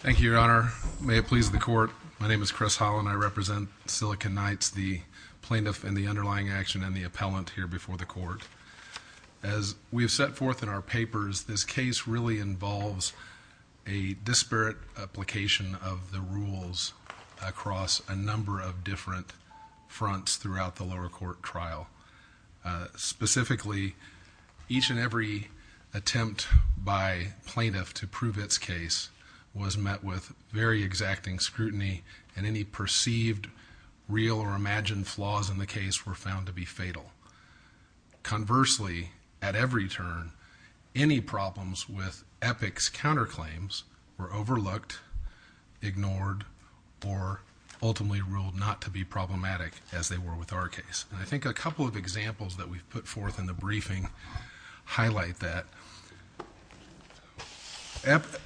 Thank you, Your Honor. May it please the court. My name is Chris Holland. I represent Silicon Knights, the plaintiff and the underlying action and the appellant here before the court. As we have set forth in our papers, this case really involves a disparate application of the rules across a number of different fronts throughout the lower court trial. Specifically, each and every attempt by plaintiff to prove its case was met with very exacting scrutiny and any perceived real or imagined flaws in the case were found to be fatal. Conversely, at every turn, any problems with Epic's counterclaims were overlooked, ignored, or ultimately ruled not to be problematic as they were with our case. I think a couple of the briefings highlight that.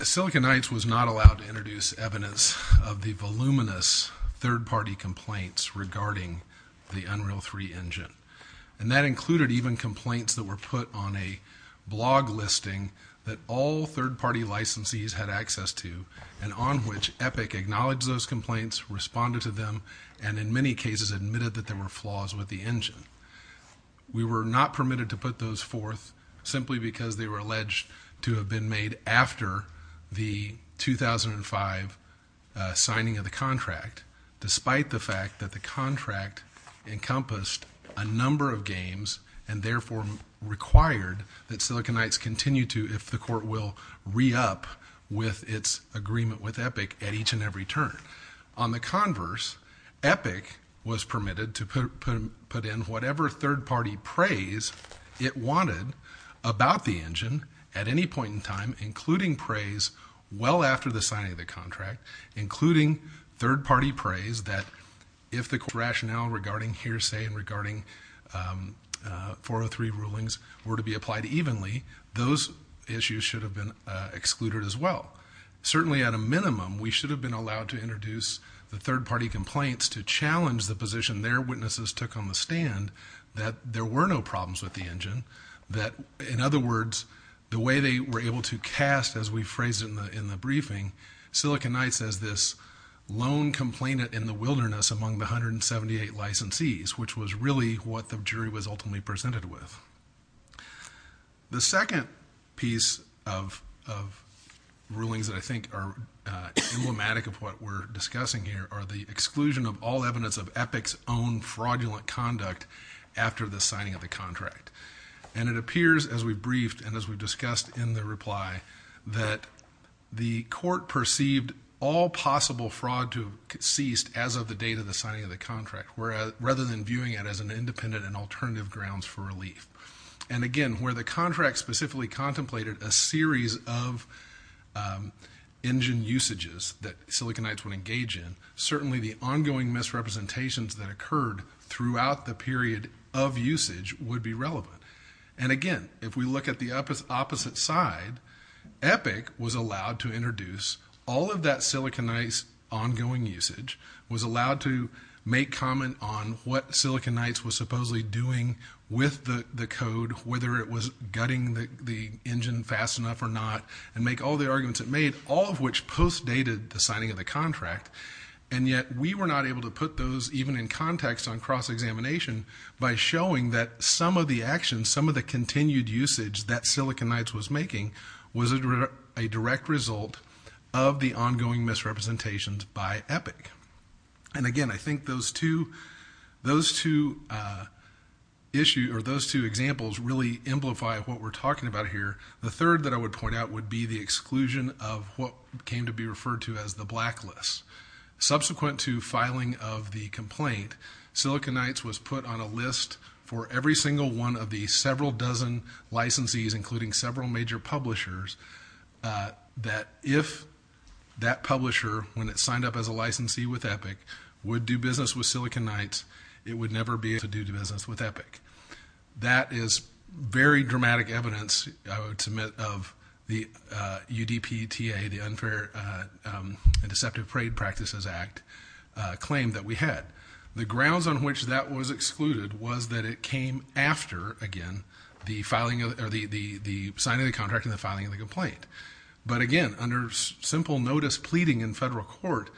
Silicon Knights was not allowed to introduce evidence of the voluminous third-party complaints regarding the Unreal 3 engine. That included even complaints that were put on a blog listing that all third-party licensees had access to and on which Epic acknowledged those complaints, responded to them, and in many cases admitted that there were not permitted to put those forth simply because they were alleged to have been made after the 2005 signing of the contract, despite the fact that the contract encompassed a number of games and therefore required that Silicon Knights continue to, if the court will, re-up with its agreement with Epic at each and every turn. On the converse, Epic was permitted to put in whatever third-party praise it wanted about the engine at any point in time, including praise well after the signing of the contract, including third-party praise that if the rationale regarding hearsay and regarding 403 rulings were to be applied evenly, those issues should have been excluded as well. Certainly, at a minimum, we should have been allowed to introduce the third-party complaints to challenge the position their witnesses took on the stand that there were no problems with the engine, that, in other words, the way they were able to cast, as we phrased in the briefing, Silicon Knights as this lone complainant in the wilderness among the 178 licensees, which was really what the jury was ultimately presented with. The second piece of rulings that I think are emblematic of what we're discussing here are the exclusion of all evidence of Epic's own fraudulent conduct after the signing of the contract. And it appears, as we've briefed and as we've discussed in the reply, that the court perceived all possible fraud to have ceased as of the date of the signing of the contract, rather than viewing it as an independent and alternative grounds for relief. And again, where the contract specifically contemplated a series of engine usages that Silicon Knights would engage in, certainly the ongoing misrepresentations that occurred throughout the period of usage would be relevant. And again, if we look at the opposite side, Epic was allowed to introduce all of that Silicon Knights' ongoing usage, was allowed to make comment on what Silicon Knights was supposedly doing with the code, whether it was gutting the engine fast enough or not, and make all the arguments it made, all of which post-dated the signing of the contract. And yet we were not able to put those even in context on cross-examination by showing that some of the actions, some of the continued usage that Silicon Knights was making was a direct result of the ongoing misrepresentations by Epic. And again, I think those two examples really amplify what we're talking about here. The third that I would point out would be the exclusion of what came to be referred to as the blacklist. Subsequent to filing of the complaint, Silicon Knights was put on a list for every single one of the several dozen licensees, including several major publishers, that if that publisher, when it signed up as a licensee with Epic, would do business with Silicon Knights, it would never be able to do business with Epic. That is very dramatic evidence, I would submit, of the UDPTA, the Unfair and Deceptive Trade Practices Act claim that we had. The grounds on which that was excluded was that it came after, again, the signing of the complaint. But again, under simple notice pleading in federal court,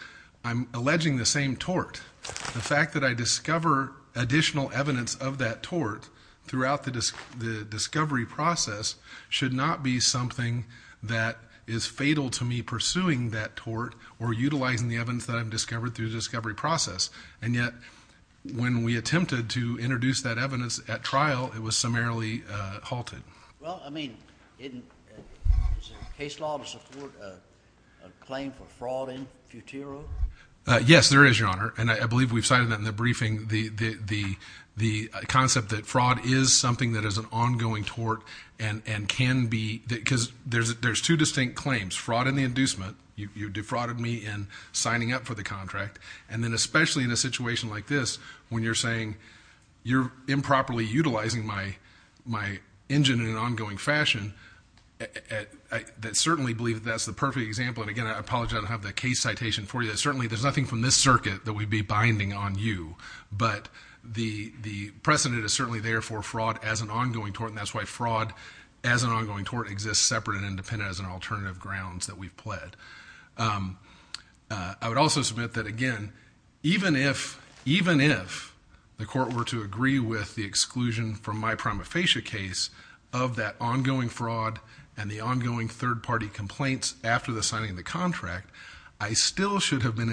I'm alleging the same tort. The fact that I discover additional evidence of that tort throughout the discovery process should not be something that is fatal to me pursuing that tort or utilizing the evidence that I've discovered through the discovery process. And yet, when we attempted to introduce that case law to support a claim for fraud in Futuro? Yes, there is, Your Honor, and I believe we've cited that in the briefing, the concept that fraud is something that is an ongoing tort and can be, because there's two distinct claims, fraud in the inducement, you defrauded me in signing up for the contract, and then especially in a situation like this, when you're saying, my engine in an ongoing fashion, I certainly believe that's the perfect example. And again, I apologize, I don't have the case citation for you. Certainly, there's nothing from this circuit that we'd be binding on you. But the precedent is certainly there for fraud as an ongoing tort, and that's why fraud as an ongoing tort exists separate and independent as an alternative grounds that we've pled. I would also submit that, again, even if the court were to from my prima facie case of that ongoing fraud and the ongoing third-party complaints after the signing of the contract, I still should have been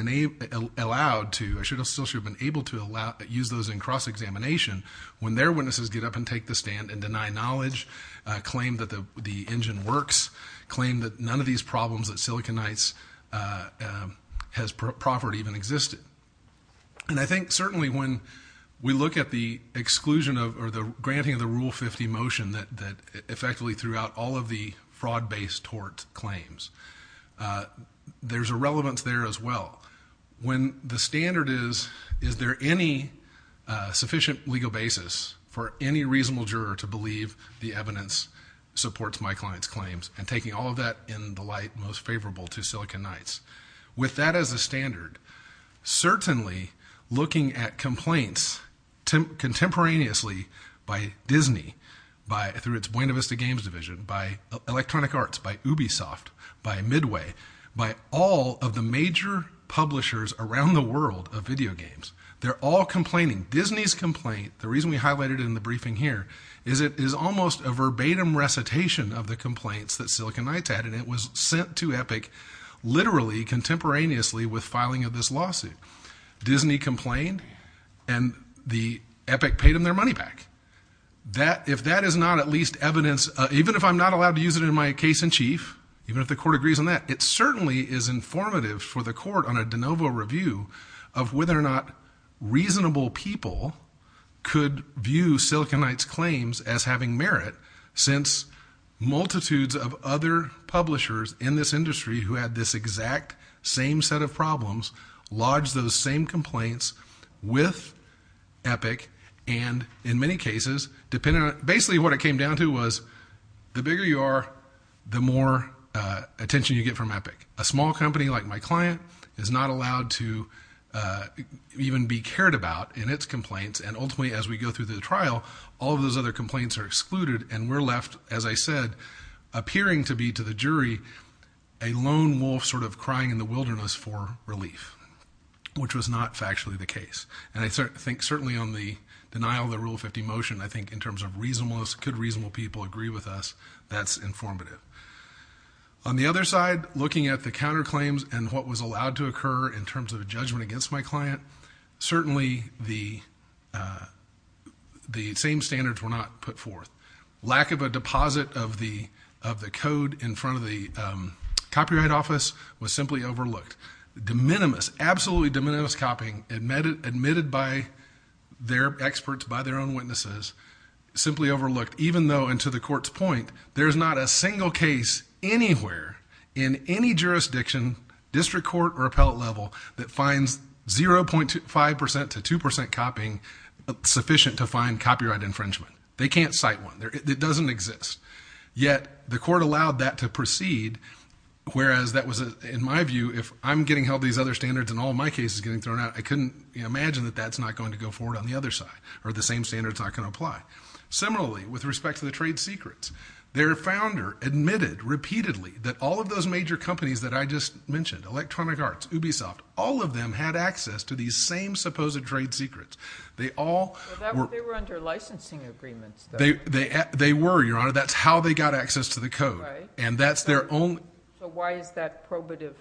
allowed to, I still should have been able to use those in cross-examination when their witnesses get up and take the stand and deny knowledge, claim that the engine works, claim that none of these problems that Siliconites has proffered even existed. And I think certainly when we look at the exclusion of, or the granting of the Rule 50 motion that effectively threw out all of the fraud-based tort claims, there's a relevance there as well. When the standard is, is there any sufficient legal basis for any reasonable juror to believe the evidence supports my client's claims, and taking all of that in the light most favorable to Siliconites? With that as a standard, certainly looking at complaints contemporaneously by Disney, through its Buena Vista Games Division, by Electronic Arts, by Ubisoft, by Midway, by all of the major publishers around the world of video games, they're all complaining. Disney's complaint, the reason we highlighted it in the that Siliconites had, and it was sent to Epic literally contemporaneously with filing of this lawsuit. Disney complained, and the Epic paid them their money back. If that is not at least evidence, even if I'm not allowed to use it in my case in chief, even if the court agrees on that, it certainly is informative for the court on a de novo review of whether or not reasonable people could view Siliconites claims as having merit, since multitudes of other publishers in this industry who had this exact same set of problems, lodged those same complaints with Epic, and in many cases, depending on, basically what it came down to was, the bigger you are, the more attention you get from Epic. A small company like my client is not allowed to even be cared about in its and ultimately, as we go through the trial, all of those other complaints are excluded, and we're left, as I said, appearing to be, to the jury, a lone wolf sort of crying in the wilderness for relief, which was not factually the case. And I think certainly on the denial of the Rule 50 motion, I think in terms of reasonableness, could reasonable people agree with us, that's informative. On the other side, looking at the counterclaims and what was allowed to occur in terms of judgment against my client, certainly the same standards were not put forth. Lack of a deposit of the code in front of the copyright office was simply overlooked. De minimis, absolutely de minimis copying admitted by their experts, by their own witnesses, simply overlooked, even though, and to the court's point, there's not a single case anywhere in any jurisdiction, district court or appellate level, that finds 0.5% to 2% copying sufficient to find copyright infringement. They can't cite one. It doesn't exist. Yet the court allowed that to proceed, whereas that was, in my view, if I'm getting held these other standards and all my cases getting thrown out, I couldn't imagine that that's not going to go forward on the other side, or the same standards not going to apply. Similarly, with respect to the trade secrets, their founder admitted repeatedly that all of those major companies that I just mentioned, Electronic Arts, Ubisoft, all of them had access to these same supposed trade secrets. They were under licensing agreements. They were, Your Honor. That's how they got access to the code. Why is that probative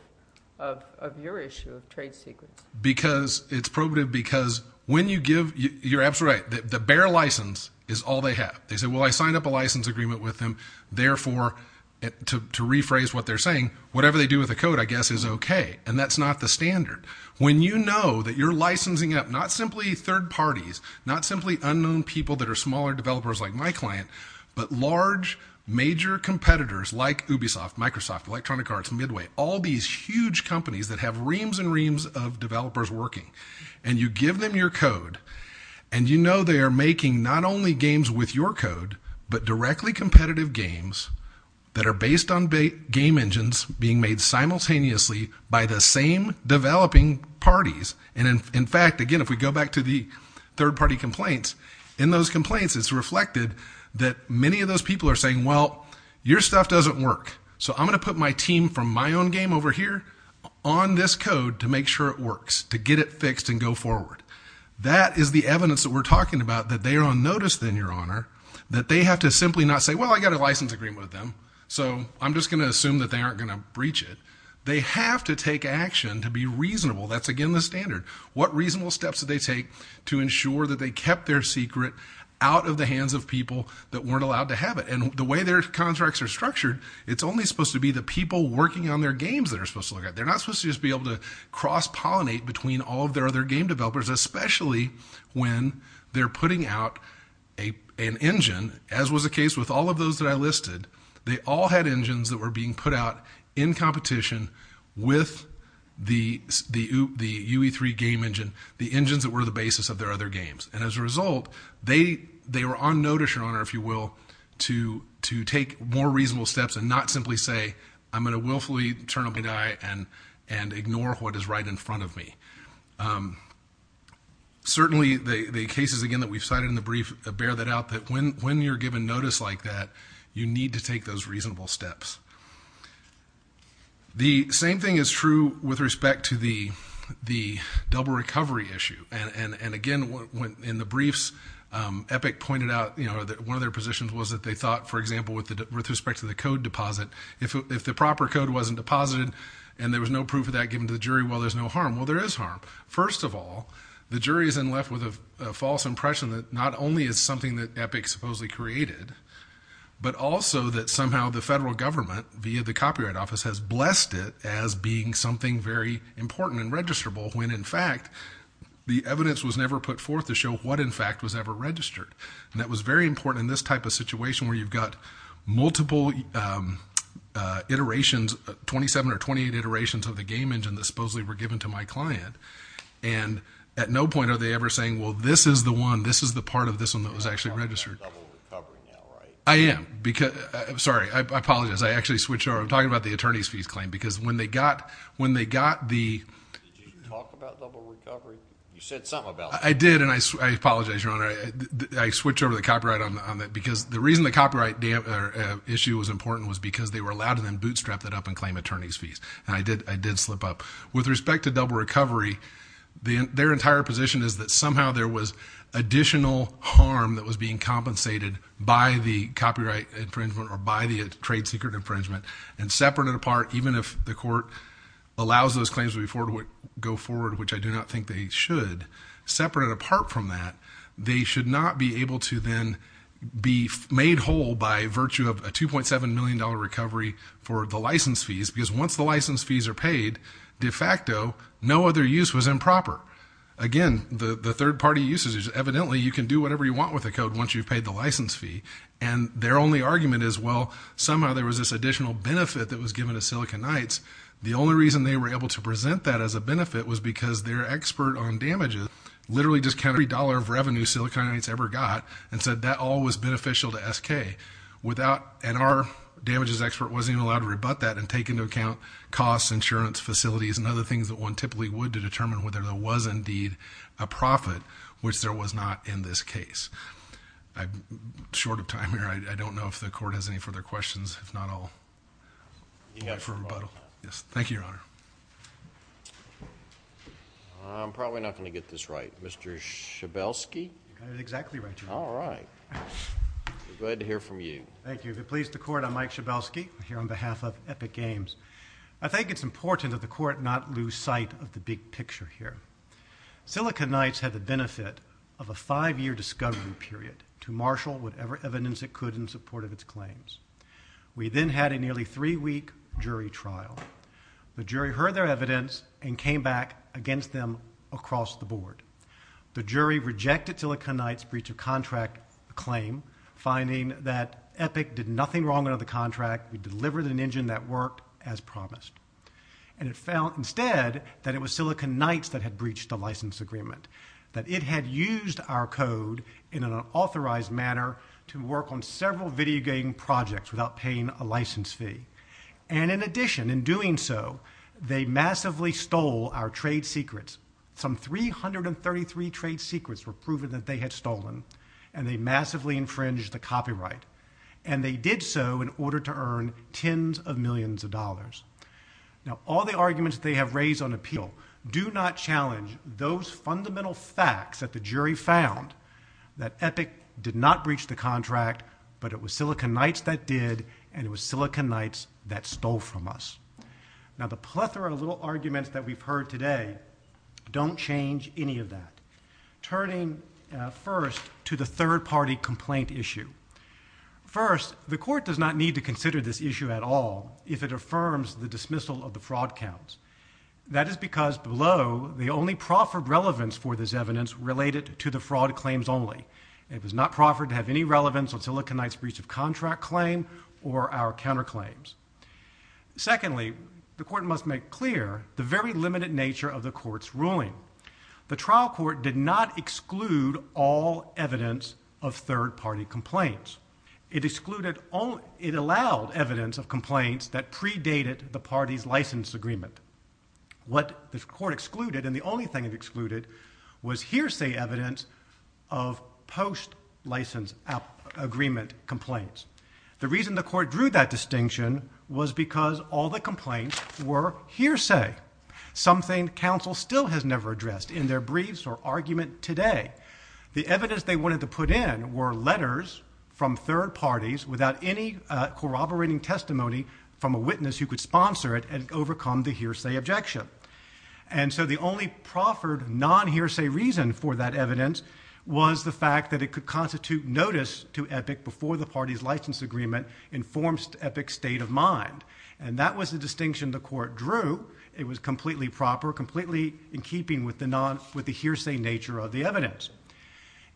of your issue of trade secrets? Because it's probative because when you give, you're absolutely right, the bare license is all they have. They say, well, I signed up a license agreement with them. Therefore, to rephrase what they're saying, whatever they do with the code, I guess, is okay. That's not the standard. When you know that you're licensing up, not simply third parties, not simply unknown people that are smaller developers like my client, but large major competitors like Ubisoft, Microsoft, Electronic Arts, Midway, all these huge companies that have reams and reams of developers working, and you give them your code, and you know they are making not only games with your code, but directly competitive games that are based on big game engines being made simultaneously by the same developing parties. And in fact, again, if we go back to the third party complaints, in those complaints, it's reflected that many of those people are saying, well, your stuff doesn't work. So I'm going to put my team from my own game over here on this code to make sure it works, to get it fixed and go forward. That is the evidence that we're talking about, that they are on notice then, your honor, that they have to simply not say, well, I got a license agreement with them, so I'm just going to assume that they aren't going to breach it. They have to take action to be reasonable. That's, again, the standard. What reasonable steps do they take to ensure that they kept their secret out of the hands of people that weren't allowed to have it? And the way their contracts are structured, it's only supposed to be the people working on their games that are supposed to look at. They're not supposed to just be able to cross pollinate between all of their other game developers, especially when they're putting out an engine, as was the case with all of those that I listed. They all had engines that were being put out in competition with the UE3 game engine, the engines that were the basis of their other games. And as a result, they were on notice, your honor, if you will, to take more reasonable steps and not simply say, I'm going to willfully turn a blind eye and ignore what is right in front of me. Certainly, the cases, again, that we've cited in the brief bear that out, that when you're given notice like that, you need to take those reasonable steps. The same thing is true with respect to the double recovery issue. And again, in the briefs, Epic pointed out that one of their thought, for example, with respect to the code deposit, if the proper code wasn't deposited and there was no proof of that given to the jury, well, there's no harm. Well, there is harm. First of all, the jury is then left with a false impression that not only is something that Epic supposedly created, but also that somehow the federal government, via the Copyright Office, has blessed it as being something very important and registrable when, in fact, the evidence was never put forth to show what, in fact, was ever registered. And that was very important in this type of situation where you've got multiple iterations, 27 or 28 iterations of the game engine that supposedly were given to my client. And at no point are they ever saying, well, this is the one, this is the part of this one that was actually registered. You're talking about double recovery now, right? I am. Sorry, I apologize. I actually switched over. I'm talking about the attorney's fees claim because when they got the... Did you talk about double recovery? You said something about it. I did, and I apologize, Your Honor. I switched over the copyright on that because the reason the copyright issue was important was because they were allowed to then bootstrap that up and claim attorney's fees. And I did slip up. With respect to double recovery, their entire position is that somehow there was additional harm that was being compensated by the copyright infringement or by the trade secret infringement. And separate it apart, even if the court allows those claims to go forward, which I do not think they should, separate it apart from that, they should not be able to then be made whole by virtue of a $2.7 million recovery for the license fees. Because once the license fees are paid, de facto, no other use was improper. Again, the third party uses it. Evidently, you can do whatever you want with the code once you've paid the license fee. And their only argument is, well, somehow there was this additional benefit that was given to Silicon Knights. The only reason they were able to present that as a benefit was because their expert on damages literally discounted every dollar of revenue Silicon Knights ever got and said that all was beneficial to SK. And our damages expert wasn't even allowed to rebut that and take into account costs, insurance facilities, and other things that one typically would to determine whether there was indeed a profit, which there was not in this case. I'm short of time here. I don't know if the court has any further questions. If not, I'll wait for rebuttal. Yes. Thank you, Your Honor. I'm probably not going to get this right. Mr. Schabelsky? I got it exactly right, Your Honor. All right. We're glad to hear from you. Thank you. If it pleases the court, I'm Mike Schabelsky here on behalf of Epic Games. I think it's important that the court not lose sight of the big picture here. Silicon Knights had the benefit of a five-year discovery period to marshal whatever evidence it could in support of its claims. We then had a nearly three-week jury trial. The jury heard their evidence and came back against them across the board. The jury rejected Silicon Knights' breach of contract claim, finding that Epic did nothing wrong under the contract. We delivered an engine that worked as promised. And it found instead that it was Silicon Knights that had breached the license agreement, that it had used our code in an unauthorized manner to work on several video game projects without paying a license fee. And in addition, in doing so, they massively stole our trade secrets. Some 333 trade secrets were proven that they had stolen, and they massively infringed the copyright. And they did so in order to earn tens of millions of dollars. Now, all the arguments they have raised on appeal do not challenge those fundamental facts that the jury found that Epic did not breach the contract, but it was Silicon Knights that did, and it was Silicon Knights that stole from us. Now, the plethora of little arguments that we've heard today don't change any of that. Turning first to the third-party complaint issue. First, the court does not need to consider this issue at all if it affirms the dismissal of the fraud counts. That is because below, the only proffered relevance for this evidence related to the fraud claims only. It was not proffered to have any relevance on Silicon Knights' breach of contract claim or our counterclaims. Secondly, the court must make clear the very limited nature of the allowed evidence of complaints that predated the party's license agreement. What the court excluded, and the only thing it excluded, was hearsay evidence of post-license agreement complaints. The reason the court drew that distinction was because all the complaints were hearsay, something counsel still has never addressed in their briefs or argument today. The evidence they wanted to put in were letters from third parties without any corroborating testimony from a witness who could sponsor it and overcome the hearsay objection. The only proffered, non-hearsay reason for that evidence was the fact that it could constitute notice to Epic before the party's license agreement informed Epic's state of mind. That was the distinction the court drew. It was completely proper, completely in keeping with the hearsay nature of the evidence.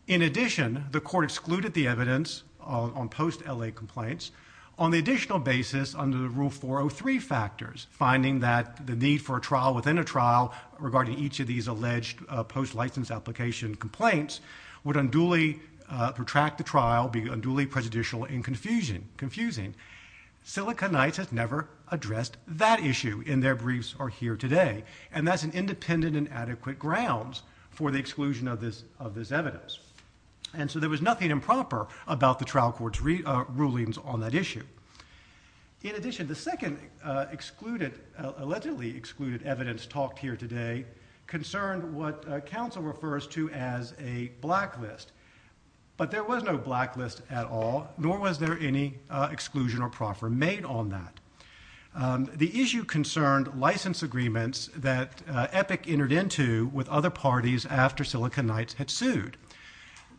In addition, the court excluded the evidence on post-L.A. complaints on the additional basis under the Rule 403 factors, finding that the need for a trial within a trial regarding each of these alleged post-license application complaints would unduly protract the trial, be unduly prejudicial and confusing. Silicon Knights has never addressed that issue in their briefs or here today, and that's an independent and adequate grounds for the exclusion of this evidence. And so there was nothing improper about the trial court's rulings on that issue. In addition, the second allegedly excluded evidence talked here today concerned what counsel refers to as a blacklist, but there was no blacklist at all, nor was there any exclusion or proffer made on that. The issue concerned license agreements that Epic entered into with other parties after Silicon Knights had sued.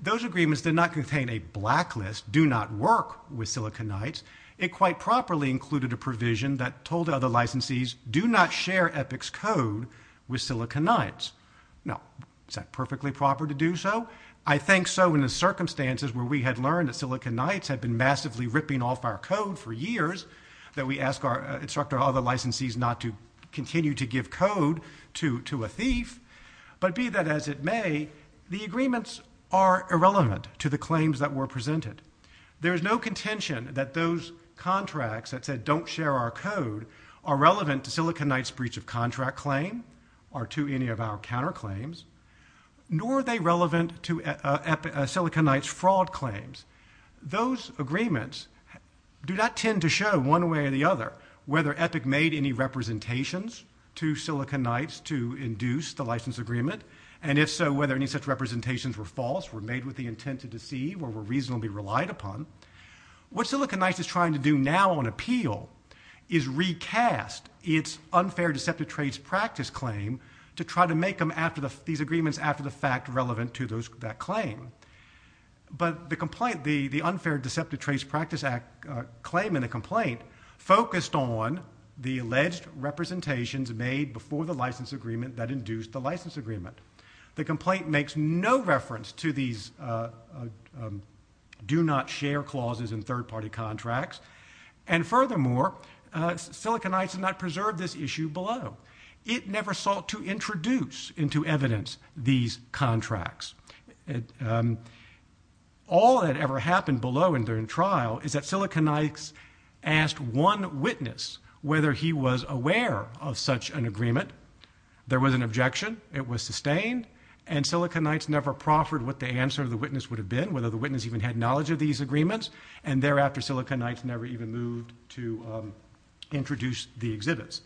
Those agreements did not contain a blacklist, do not work with Silicon Knights. It quite properly included a provision that told other licensees do not share Epic's code with Silicon Knights. Now, is that perfectly proper to do so? I think so in the circumstances where we had learned that Silicon Knights had been massively ripping off our code for years, that we asked our instructor other licensees not to give code to a thief, but be that as it may, the agreements are irrelevant to the claims that were presented. There is no contention that those contracts that said don't share our code are relevant to Silicon Knights' breach of contract claim or to any of our counterclaims, nor are they relevant to Silicon Knights' fraud claims. Those agreements do not tend to show one way or the other to Silicon Knights to induce the license agreement, and if so, whether any such representations were false, were made with the intent to deceive, or were reasonably relied upon. What Silicon Knights is trying to do now on appeal is recast its unfair deceptive trades practice claim to try to make these agreements after the fact relevant to that claim. But the complaint, the unfair deceptive trades practice claim in a complaint focused on the alleged representations made before the license agreement that induced the license agreement. The complaint makes no reference to these do not share clauses in third-party contracts, and furthermore, Silicon Knights has not preserved this issue below. It never sought to introduce into evidence these contracts. All that ever happened below and during trial is that Silicon Knights asked one witness whether he was aware of such an agreement. There was an objection. It was sustained, and Silicon Knights never proffered what the answer of the witness would have been, whether the witness even had knowledge of these agreements, and thereafter Silicon Knights never even moved to introduce the exhibits.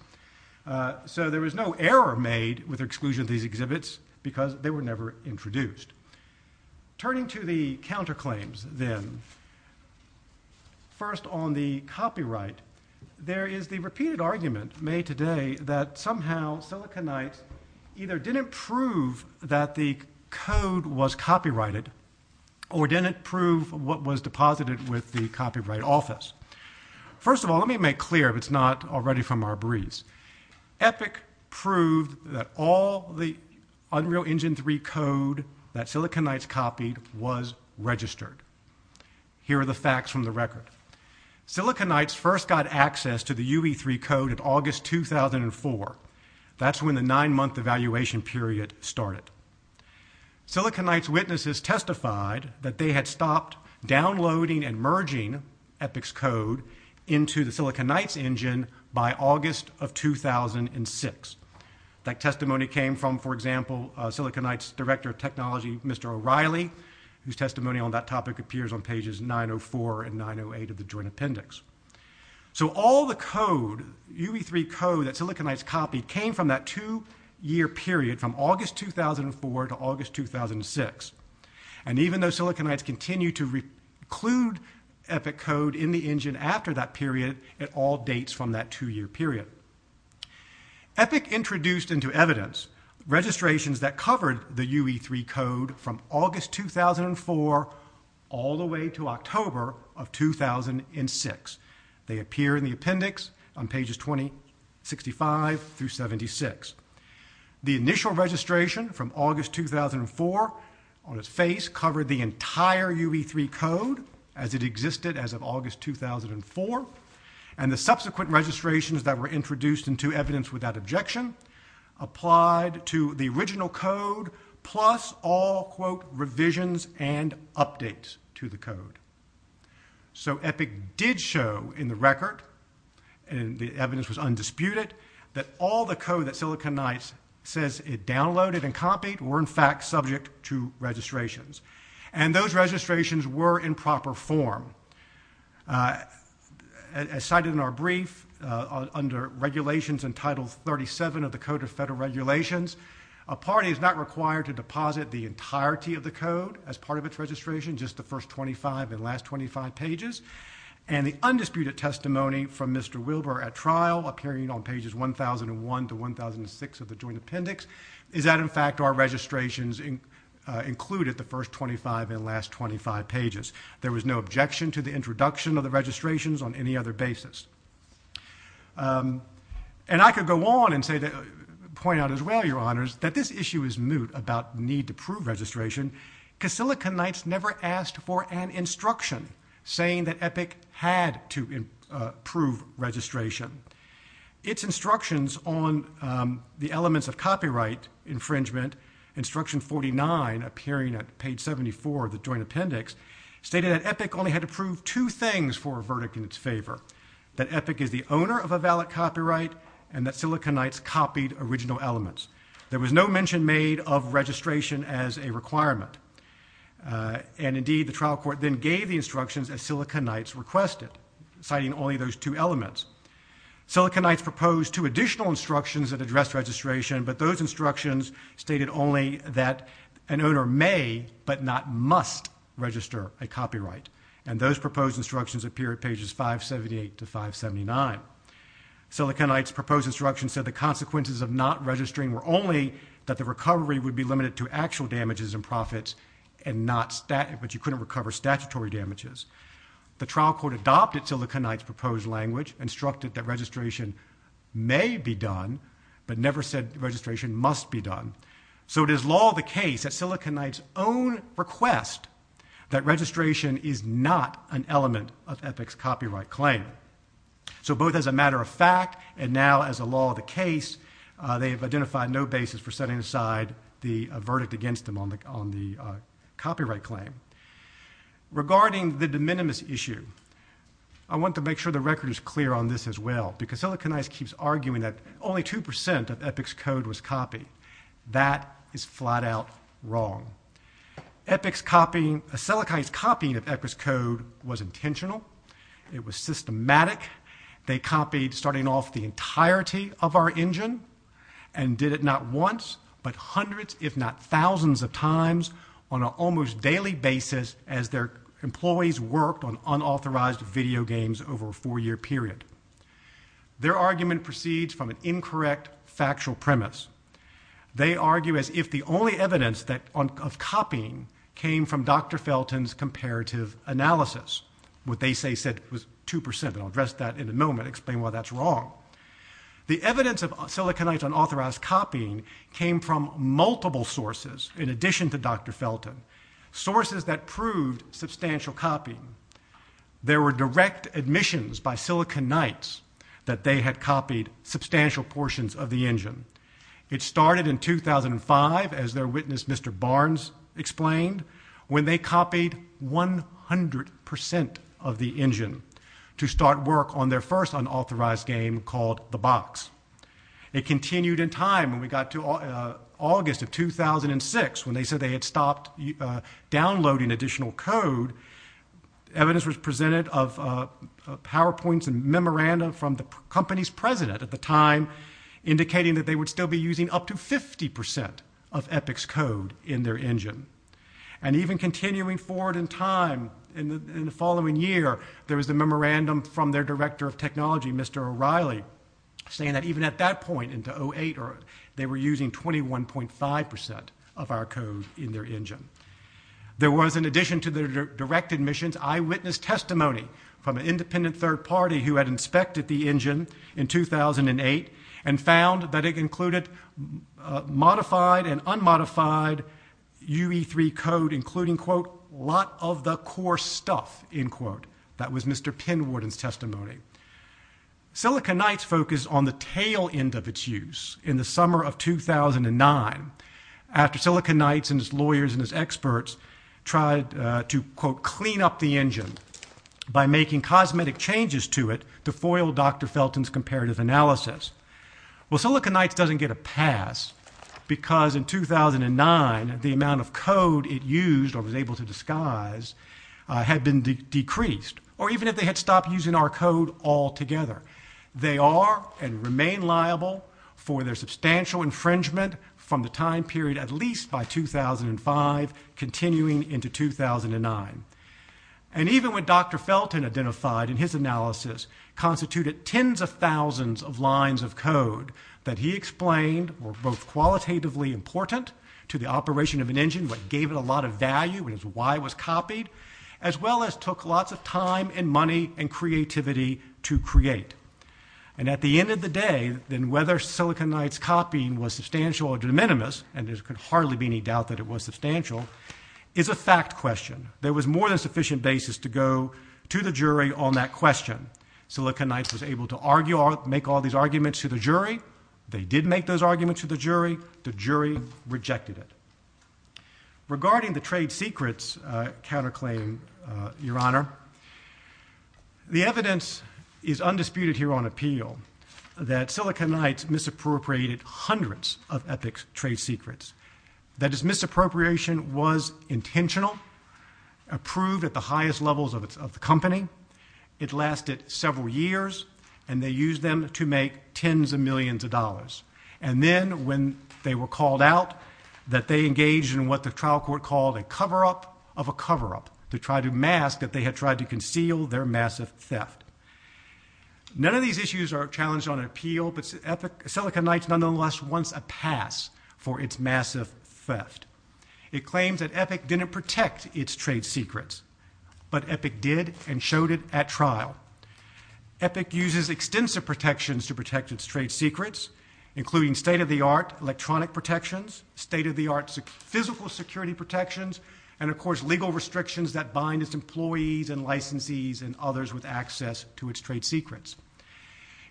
So there was no error made with exclusion of these exhibits because they were never introduced. Turning to the counterclaims then, first on the copyright, there is the repeated argument made today that somehow Silicon Knights either didn't prove that the code was copyrighted or didn't prove what was deposited with the copyright office. First of all, let me make clear if it's not already from our breeze. Epic proved that all the Unreal Engine 3 code that Silicon Knights copied was registered. Here are the facts from the record. Silicon Knights first got access to the UE3 code in August 2004. That's when the nine-month evaluation period started. Silicon Knights witnesses testified that they had stopped downloading and merging Epic's code into the Silicon Knights engine by August of 2006. That testimony came from, for example, Silicon Knights director of technology, Mr. O'Reilly, whose testimony on that topic appears on pages 904 and 908 of the joint appendix. So all the code, UE3 code that Silicon Knights copied, came from that two-year period from August 2004 to August 2006. And even though Silicon Knights continued to reclude Epic code in the engine after that period, it all dates from that two-year period. Epic introduced into evidence registrations that covered the UE3 code from August 2004 all the way to October of 2006. They appear in the appendix on pages 2065 through 76. The initial registration from August 2004 on its face covered the entire UE3 code as it existed as of August 2004. And the subsequent registrations that were introduced into evidence without objection applied to the original code plus all quote revisions and updates to the code. So Epic did show in the record, and the evidence was undisputed, that all the code that Silicon Knights says it downloaded and copied were, in fact, subject to registrations. And those registrations were in proper form. As cited in our brief, under regulations in Title 37 of the Code of Federal Regulations, a party is not required to deposit the entirety of the code as part of its registration, just the first 25 and last 25 pages. And the undisputed testimony from Mr. Wilbur at trial, appearing on pages 1001 to 1006 of the joint appendix, is that, in fact, our registrations included the first 25 and last 25 pages. There was no objection to the introduction of the registrations on any other basis. And I could go on and point out as well, Your Honors, that this issue is moot about need to prove registration because Silicon Knights never asked for an instruction saying that Epic had to prove registration. Its instructions on the elements of copyright infringement, instruction 49, appearing at page 74 of the joint appendix, stated that Epic only had to prove two things for a verdict in its favor, that Epic is the owner of a valid copyright and that Silicon Knights copied original elements. There was no mention made of registration as a requirement. And, indeed, the trial court then gave the instructions as Silicon Knights requested, citing only those two elements. Silicon Knights proposed two additional instructions that addressed registration, but those instructions stated only that an owner may but not must register a copyright. And those proposed instructions appear at pages 578 to 579. Silicon Knights' proposed instructions said the consequences of not registering were only that the recovery would be limited to actual damages and profits, but you couldn't recover statutory damages. The trial court adopted Silicon Knights' proposed language, instructed that registration may be done, but never said registration must be done. So it is law of the case that Silicon Knights own request that registration is not an element of Epic's copyright claim. So both as a matter of fact and now as a law of the case, they have identified no basis for setting aside the verdict against them on the copyright claim. Regarding the de minimis issue, I want to make sure the record is clear on this as well, because Silicon Knights keeps arguing that only 2% of Epic's code was copied. That is flat out wrong. Epic's copying, Silicon Knights' copying of Epic's code was intentional. It was systematic. They copied starting off the entirety of our engine and did it not once, but hundreds, if not thousands of times on an almost daily basis as their employees worked on unauthorized video games over a four-year period. Their argument proceeds from an incorrect factual premise. They argue as if the only evidence of copying came from Dr. Felton's comparative analysis. What they say said was 2%, and I'll address that in a moment, explain why that's wrong. The evidence of Silicon Knights' unauthorized copying came from multiple sources in addition to Dr. Felton, sources that proved substantial copying. There were direct admissions by Silicon Knights that they had copied substantial portions of the engine. It started in 2005, as their witness Mr. Barnes explained, when they copied 100% of the engine to start work on their first unauthorized game called The Box. It continued in time when we got to August of 2006 when they said they had stopped downloading additional code. Evidence was presented of PowerPoints and memorandum from the company's president at the time indicating that they would still be using up to 50% of Epic's code in their engine. And even continuing forward in time in the following year, there was a memorandum from their director of technology, Mr. O'Reilly, saying that even at that point in 2008, they were using 21.5% of our code in their engine. There was, in addition to their direct admissions, eyewitness testimony from an independent third party who had inspected the engine in 2008 and found that it included modified and unmodified UE3 code including, quote, lot of the core stuff, end quote. That was Mr. Penwarden's testimony. Silicon Knights focused on the tail end of its use in the summer of 2009 after Silicon Changes to it to foil Dr. Felton's comparative analysis. Well, Silicon Knights doesn't get a pass because in 2009 the amount of code it used or was able to disguise had been decreased, or even if they had stopped using our code altogether. They are and remain liable for their substantial infringement from the time period at least by 2005 continuing into 2009. And even when Dr. Felton identified in his analysis constituted tens of thousands of lines of code that he explained were both qualitatively important to the operation of an engine, what gave it a lot of value, why it was copied, as well as took lots of time and money and creativity to create. And at the end of the day, then whether Silicon Knights copying was substantial or de minimis, and there could hardly be any doubt that it was substantial, is a fact question. There was more than sufficient basis to go to the jury on that question. Silicon Knights was able to make all these arguments to the jury. They did make those arguments to the jury. The jury rejected it. Regarding the trade secrets counterclaim, Your Honor, the evidence is undisputed here on appeal that Silicon Knights misappropriated hundreds of ethics trade secrets. That is, misappropriation was intentional, approved at the highest levels of the company. It lasted several years, and they used them to make tens of millions of dollars. And then when they were called out, that they engaged in what the trial court called a cover-up of a cover-up to try to mask that they had tried to conceal their massive theft. None of these issues are challenged on appeal, but Silicon Knights nonetheless wants a pass for its massive theft. It claims that Epic didn't protect its trade secrets, but Epic did and showed it at trial. Epic uses extensive protections to protect its trade secrets, including state-of-the-art electronic protections, state-of-the-art physical security protections, and of course, legal restrictions that bind its employees and licensees and others with access to its trade secrets.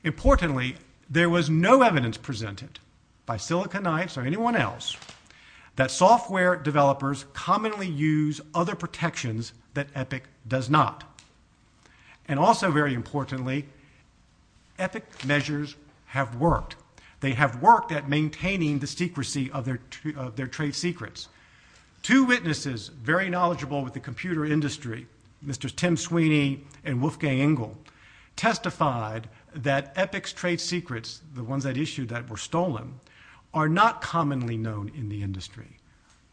Importantly, there was no evidence presented by Silicon Knights or anyone else that software developers commonly use other protections that Epic does not. And also very importantly, Epic measures have worked. They have worked at maintaining the secrecy of their trade secrets. Two witnesses, very knowledgeable with the computer industry, Mr. Tim Sweeney and Wolfgang Engel, testified that Epic's trade secrets, the ones that issued that were stolen, are not commonly known in the industry,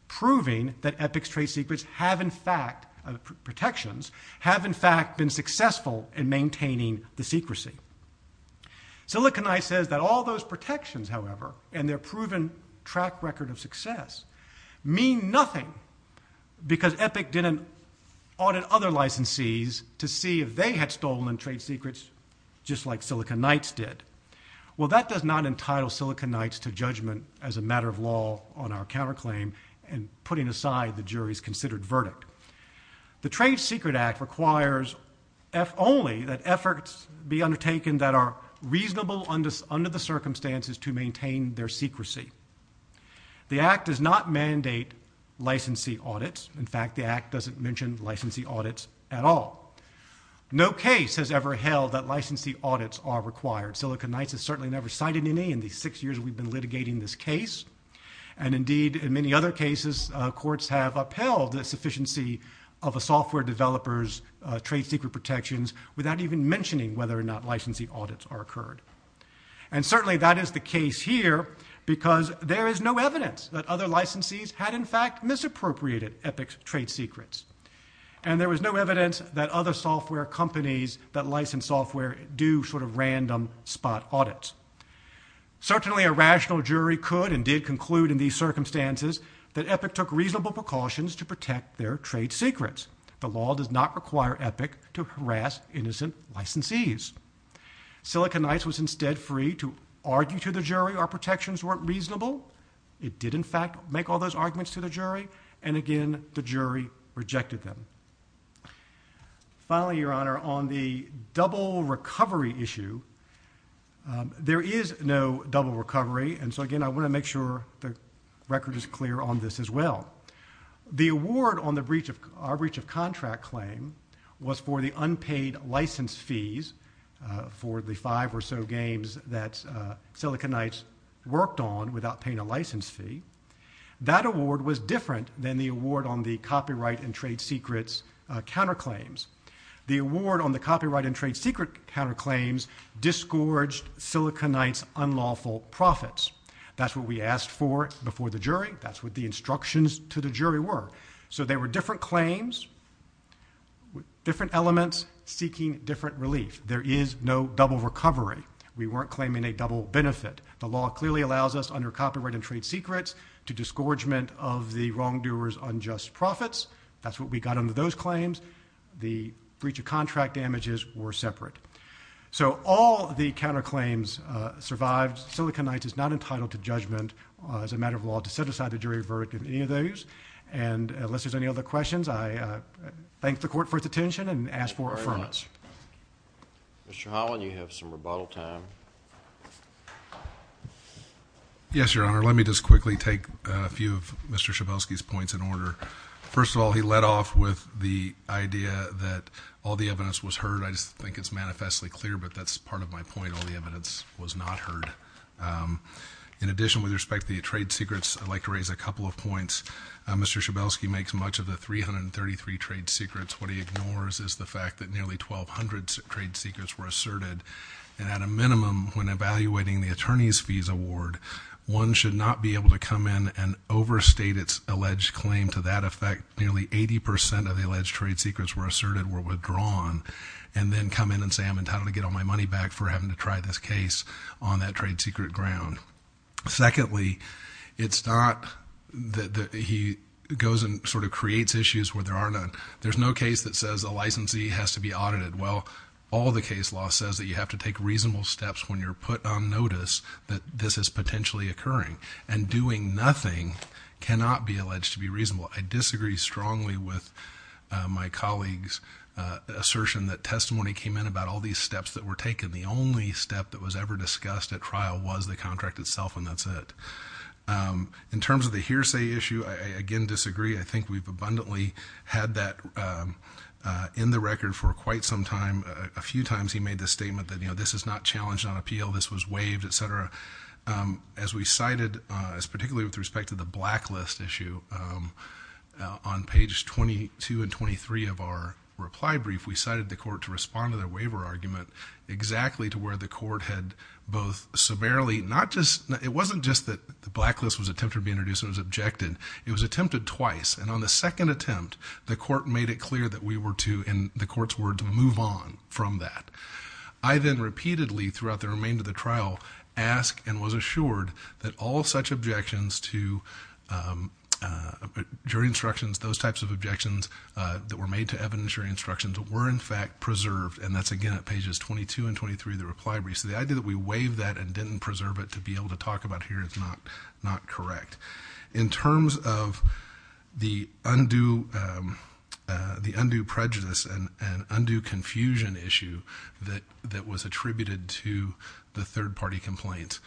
proving that Epic's trade secrets have in fact, protections, have in fact been successful in maintaining the secrecy. Silicon Knights says that all those protections, however, and their proven track record of success mean nothing because Epic didn't audit other licensees to see if they had stolen trade secrets just like Silicon Knights did. Well, that does not entitle Silicon Knights to judgment as a matter of law on our counterclaim and putting aside the jury's considered verdict. The Trade Secret Act requires, if only, that efforts be maintained their secrecy. The Act does not mandate licensee audits. In fact, the Act doesn't mention licensee audits at all. No case has ever held that licensee audits are required. Silicon Knights has certainly never cited any in the six years we've been litigating this case. And indeed, in many other cases, courts have upheld the sufficiency of a software developer's trade secret protections without even mentioning whether or not licensee audits are occurred. And certainly that is the case here because there is no evidence that other licensees had in fact misappropriated Epic's trade secrets. And there was no evidence that other software companies that license software do sort of random spot audits. Certainly a rational jury could and did conclude in these circumstances that Epic took reasonable precautions to protect their trade secrets. The law does not require Epic to harass innocent licensees. Silicon Knights was instead free to argue to the jury our protections weren't reasonable. It did in fact make all those arguments to the jury. And again, the jury rejected them. Finally, Your Honor, on the double recovery issue, there is no double recovery. And so again, I want to make sure the record is clear on this as well. The award on our breach of contract claim was for the unpaid license fees for the five or so games that Silicon Knights worked on without paying a license fee. That award was different than the award on the copyright and trade secrets counterclaims. The award on the copyright and trade secret counterclaims disgorged Silicon Knights' unlawful profits. That's what we got under those claims. The breach of contract damages were separate. So all the counterclaims survived. Silicon Knights is not entitled to judgment as a matter of law to set aside the verdict of any of those. And unless there's any other questions, I thank the court for its attention and ask for affirmance. Mr. Holland, you have some rebuttal time. Yes, Your Honor. Let me just quickly take a few of Mr. Schabowski's points in order. First of all, he led off with the idea that all the evidence was heard. I just think it's manifestly clear, but that's part of my point. All the evidence was not heard. In addition, with respect to the trade secrets, I'd like to raise a couple of points. Mr. Schabowski makes much of the 333 trade secrets. What he ignores is the fact that nearly 1,200 trade secrets were asserted. And at a minimum, when evaluating the attorney's fees award, one should not be able to come in and overstate its alleged claim. To that effect, nearly 80 percent of the alleged trade secrets were asserted, were withdrawn, and then come in and say, I'm entitled to get all my money back for having to this case on that trade secret ground. Secondly, it's not that he goes and sort of creates issues where there are none. There's no case that says a licensee has to be audited. Well, all the case law says that you have to take reasonable steps when you're put on notice that this is potentially occurring. And doing nothing cannot be alleged to be reasonable. I disagree strongly with my colleague's assertion that testimony came in about all these steps that were taken. The only step that was ever discussed at trial was the contract itself, and that's it. In terms of the hearsay issue, I again disagree. I think we've abundantly had that in the record for quite some time. A few times he made the statement that this is not challenged on appeal, this was waived, et cetera. As we cited, particularly with respect to the blacklist issue, on page 22 and 23 of our reply brief, we cited the court to respond to their waiver argument exactly to where the court had both severely, not just, it wasn't just that the blacklist was attempted to be introduced and was objected, it was attempted twice. And on the second attempt, the court made it clear that we were to, in the court's words, move on from that. I then repeatedly throughout the remainder of the trial asked and was assured that all such objections to jury instructions, those types of objections that were made to evidence jury instructions were in fact preserved, and that's again at pages 22 and 23 of the reply brief. So the idea that we waived that and didn't preserve it to be able to talk about here is not correct. In terms of the undue prejudice and undue confusion issue that was attributed to the third party complaint,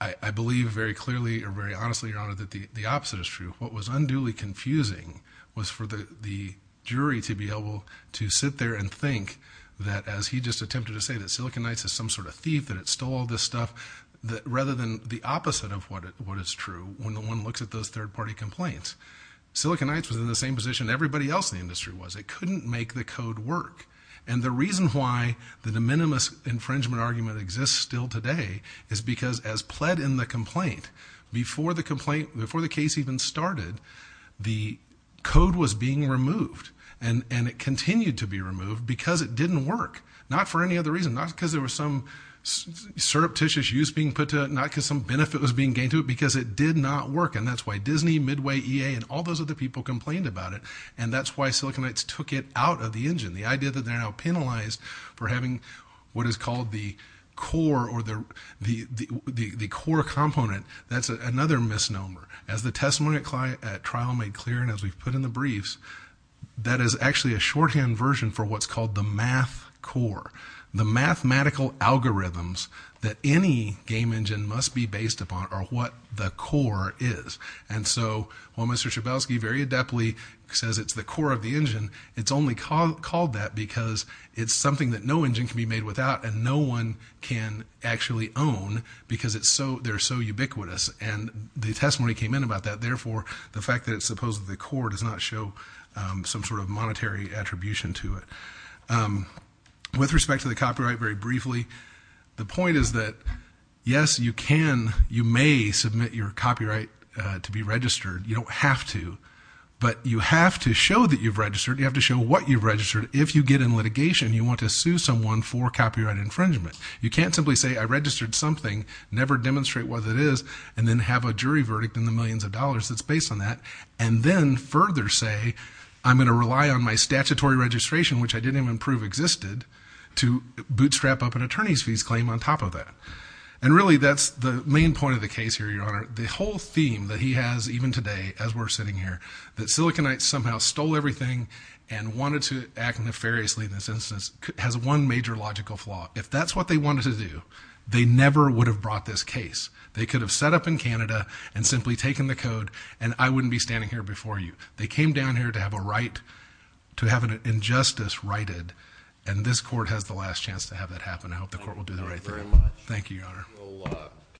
I believe very clearly or very honestly, Your Honor, that the opposite is true. What was unduly confusing was for the jury to be able to sit there and think that as he just attempted to say that Silicon Heights is some sort of thief, that it stole all this stuff, rather than the opposite of what is true when one looks at those third party complaints. Silicon Heights was in the same position everybody else in the industry was. It couldn't make the code work. And the reason why the de minimis infringement argument exists still today is because as pled in the complaint, before the case even started, the code was being removed. And it continued to be removed because it didn't work. Not for any other reason. Not because there was some surreptitious use being put to it. Not because some benefit was being gained to it. Because it did not work. And that's why Disney, Midway, EA, and all those other people complained about it. And that's why Silicon Heights took it out of the engine. The idea that they're now penalized for having what is called the core component, that's another misnomer. As the testimony at trial made clear, and as we've put in the briefs, that is actually a shorthand version for what's called the math core. The mathematical algorithms that any game engine must be based upon are what the core is. And so while Mr. Schabowski very adeptly says it's the core of the engine, it's only called that because it's something that no engine can be made without and no one can actually own because they're so ubiquitous. And the testimony came in about that. Therefore, the fact that it's supposed to be the core does not show some sort of monetary attribution to it. With respect to the copyright, very briefly, the point is that, yes, you can, you may submit your what you've registered. If you get in litigation, you want to sue someone for copyright infringement. You can't simply say, I registered something, never demonstrate what it is, and then have a jury verdict in the millions of dollars that's based on that. And then further say, I'm going to rely on my statutory registration, which I didn't even prove existed, to bootstrap up an attorney's fees claim on top of that. And really, that's the main point of the case here, Your Honor. The whole theme that he has, even today, as we're sitting here, that Silicon Heights somehow stole everything and wanted to act nefariously in this instance, has one major logical flaw. If that's what they wanted to do, they never would have brought this case. They could have set up in Canada and simply taken the code, and I wouldn't be standing here before you. They came down here to have a right, to have an injustice righted, and this court has the last chance to have that happen. I hope the court will do the right thing. Thank you, Your Honor.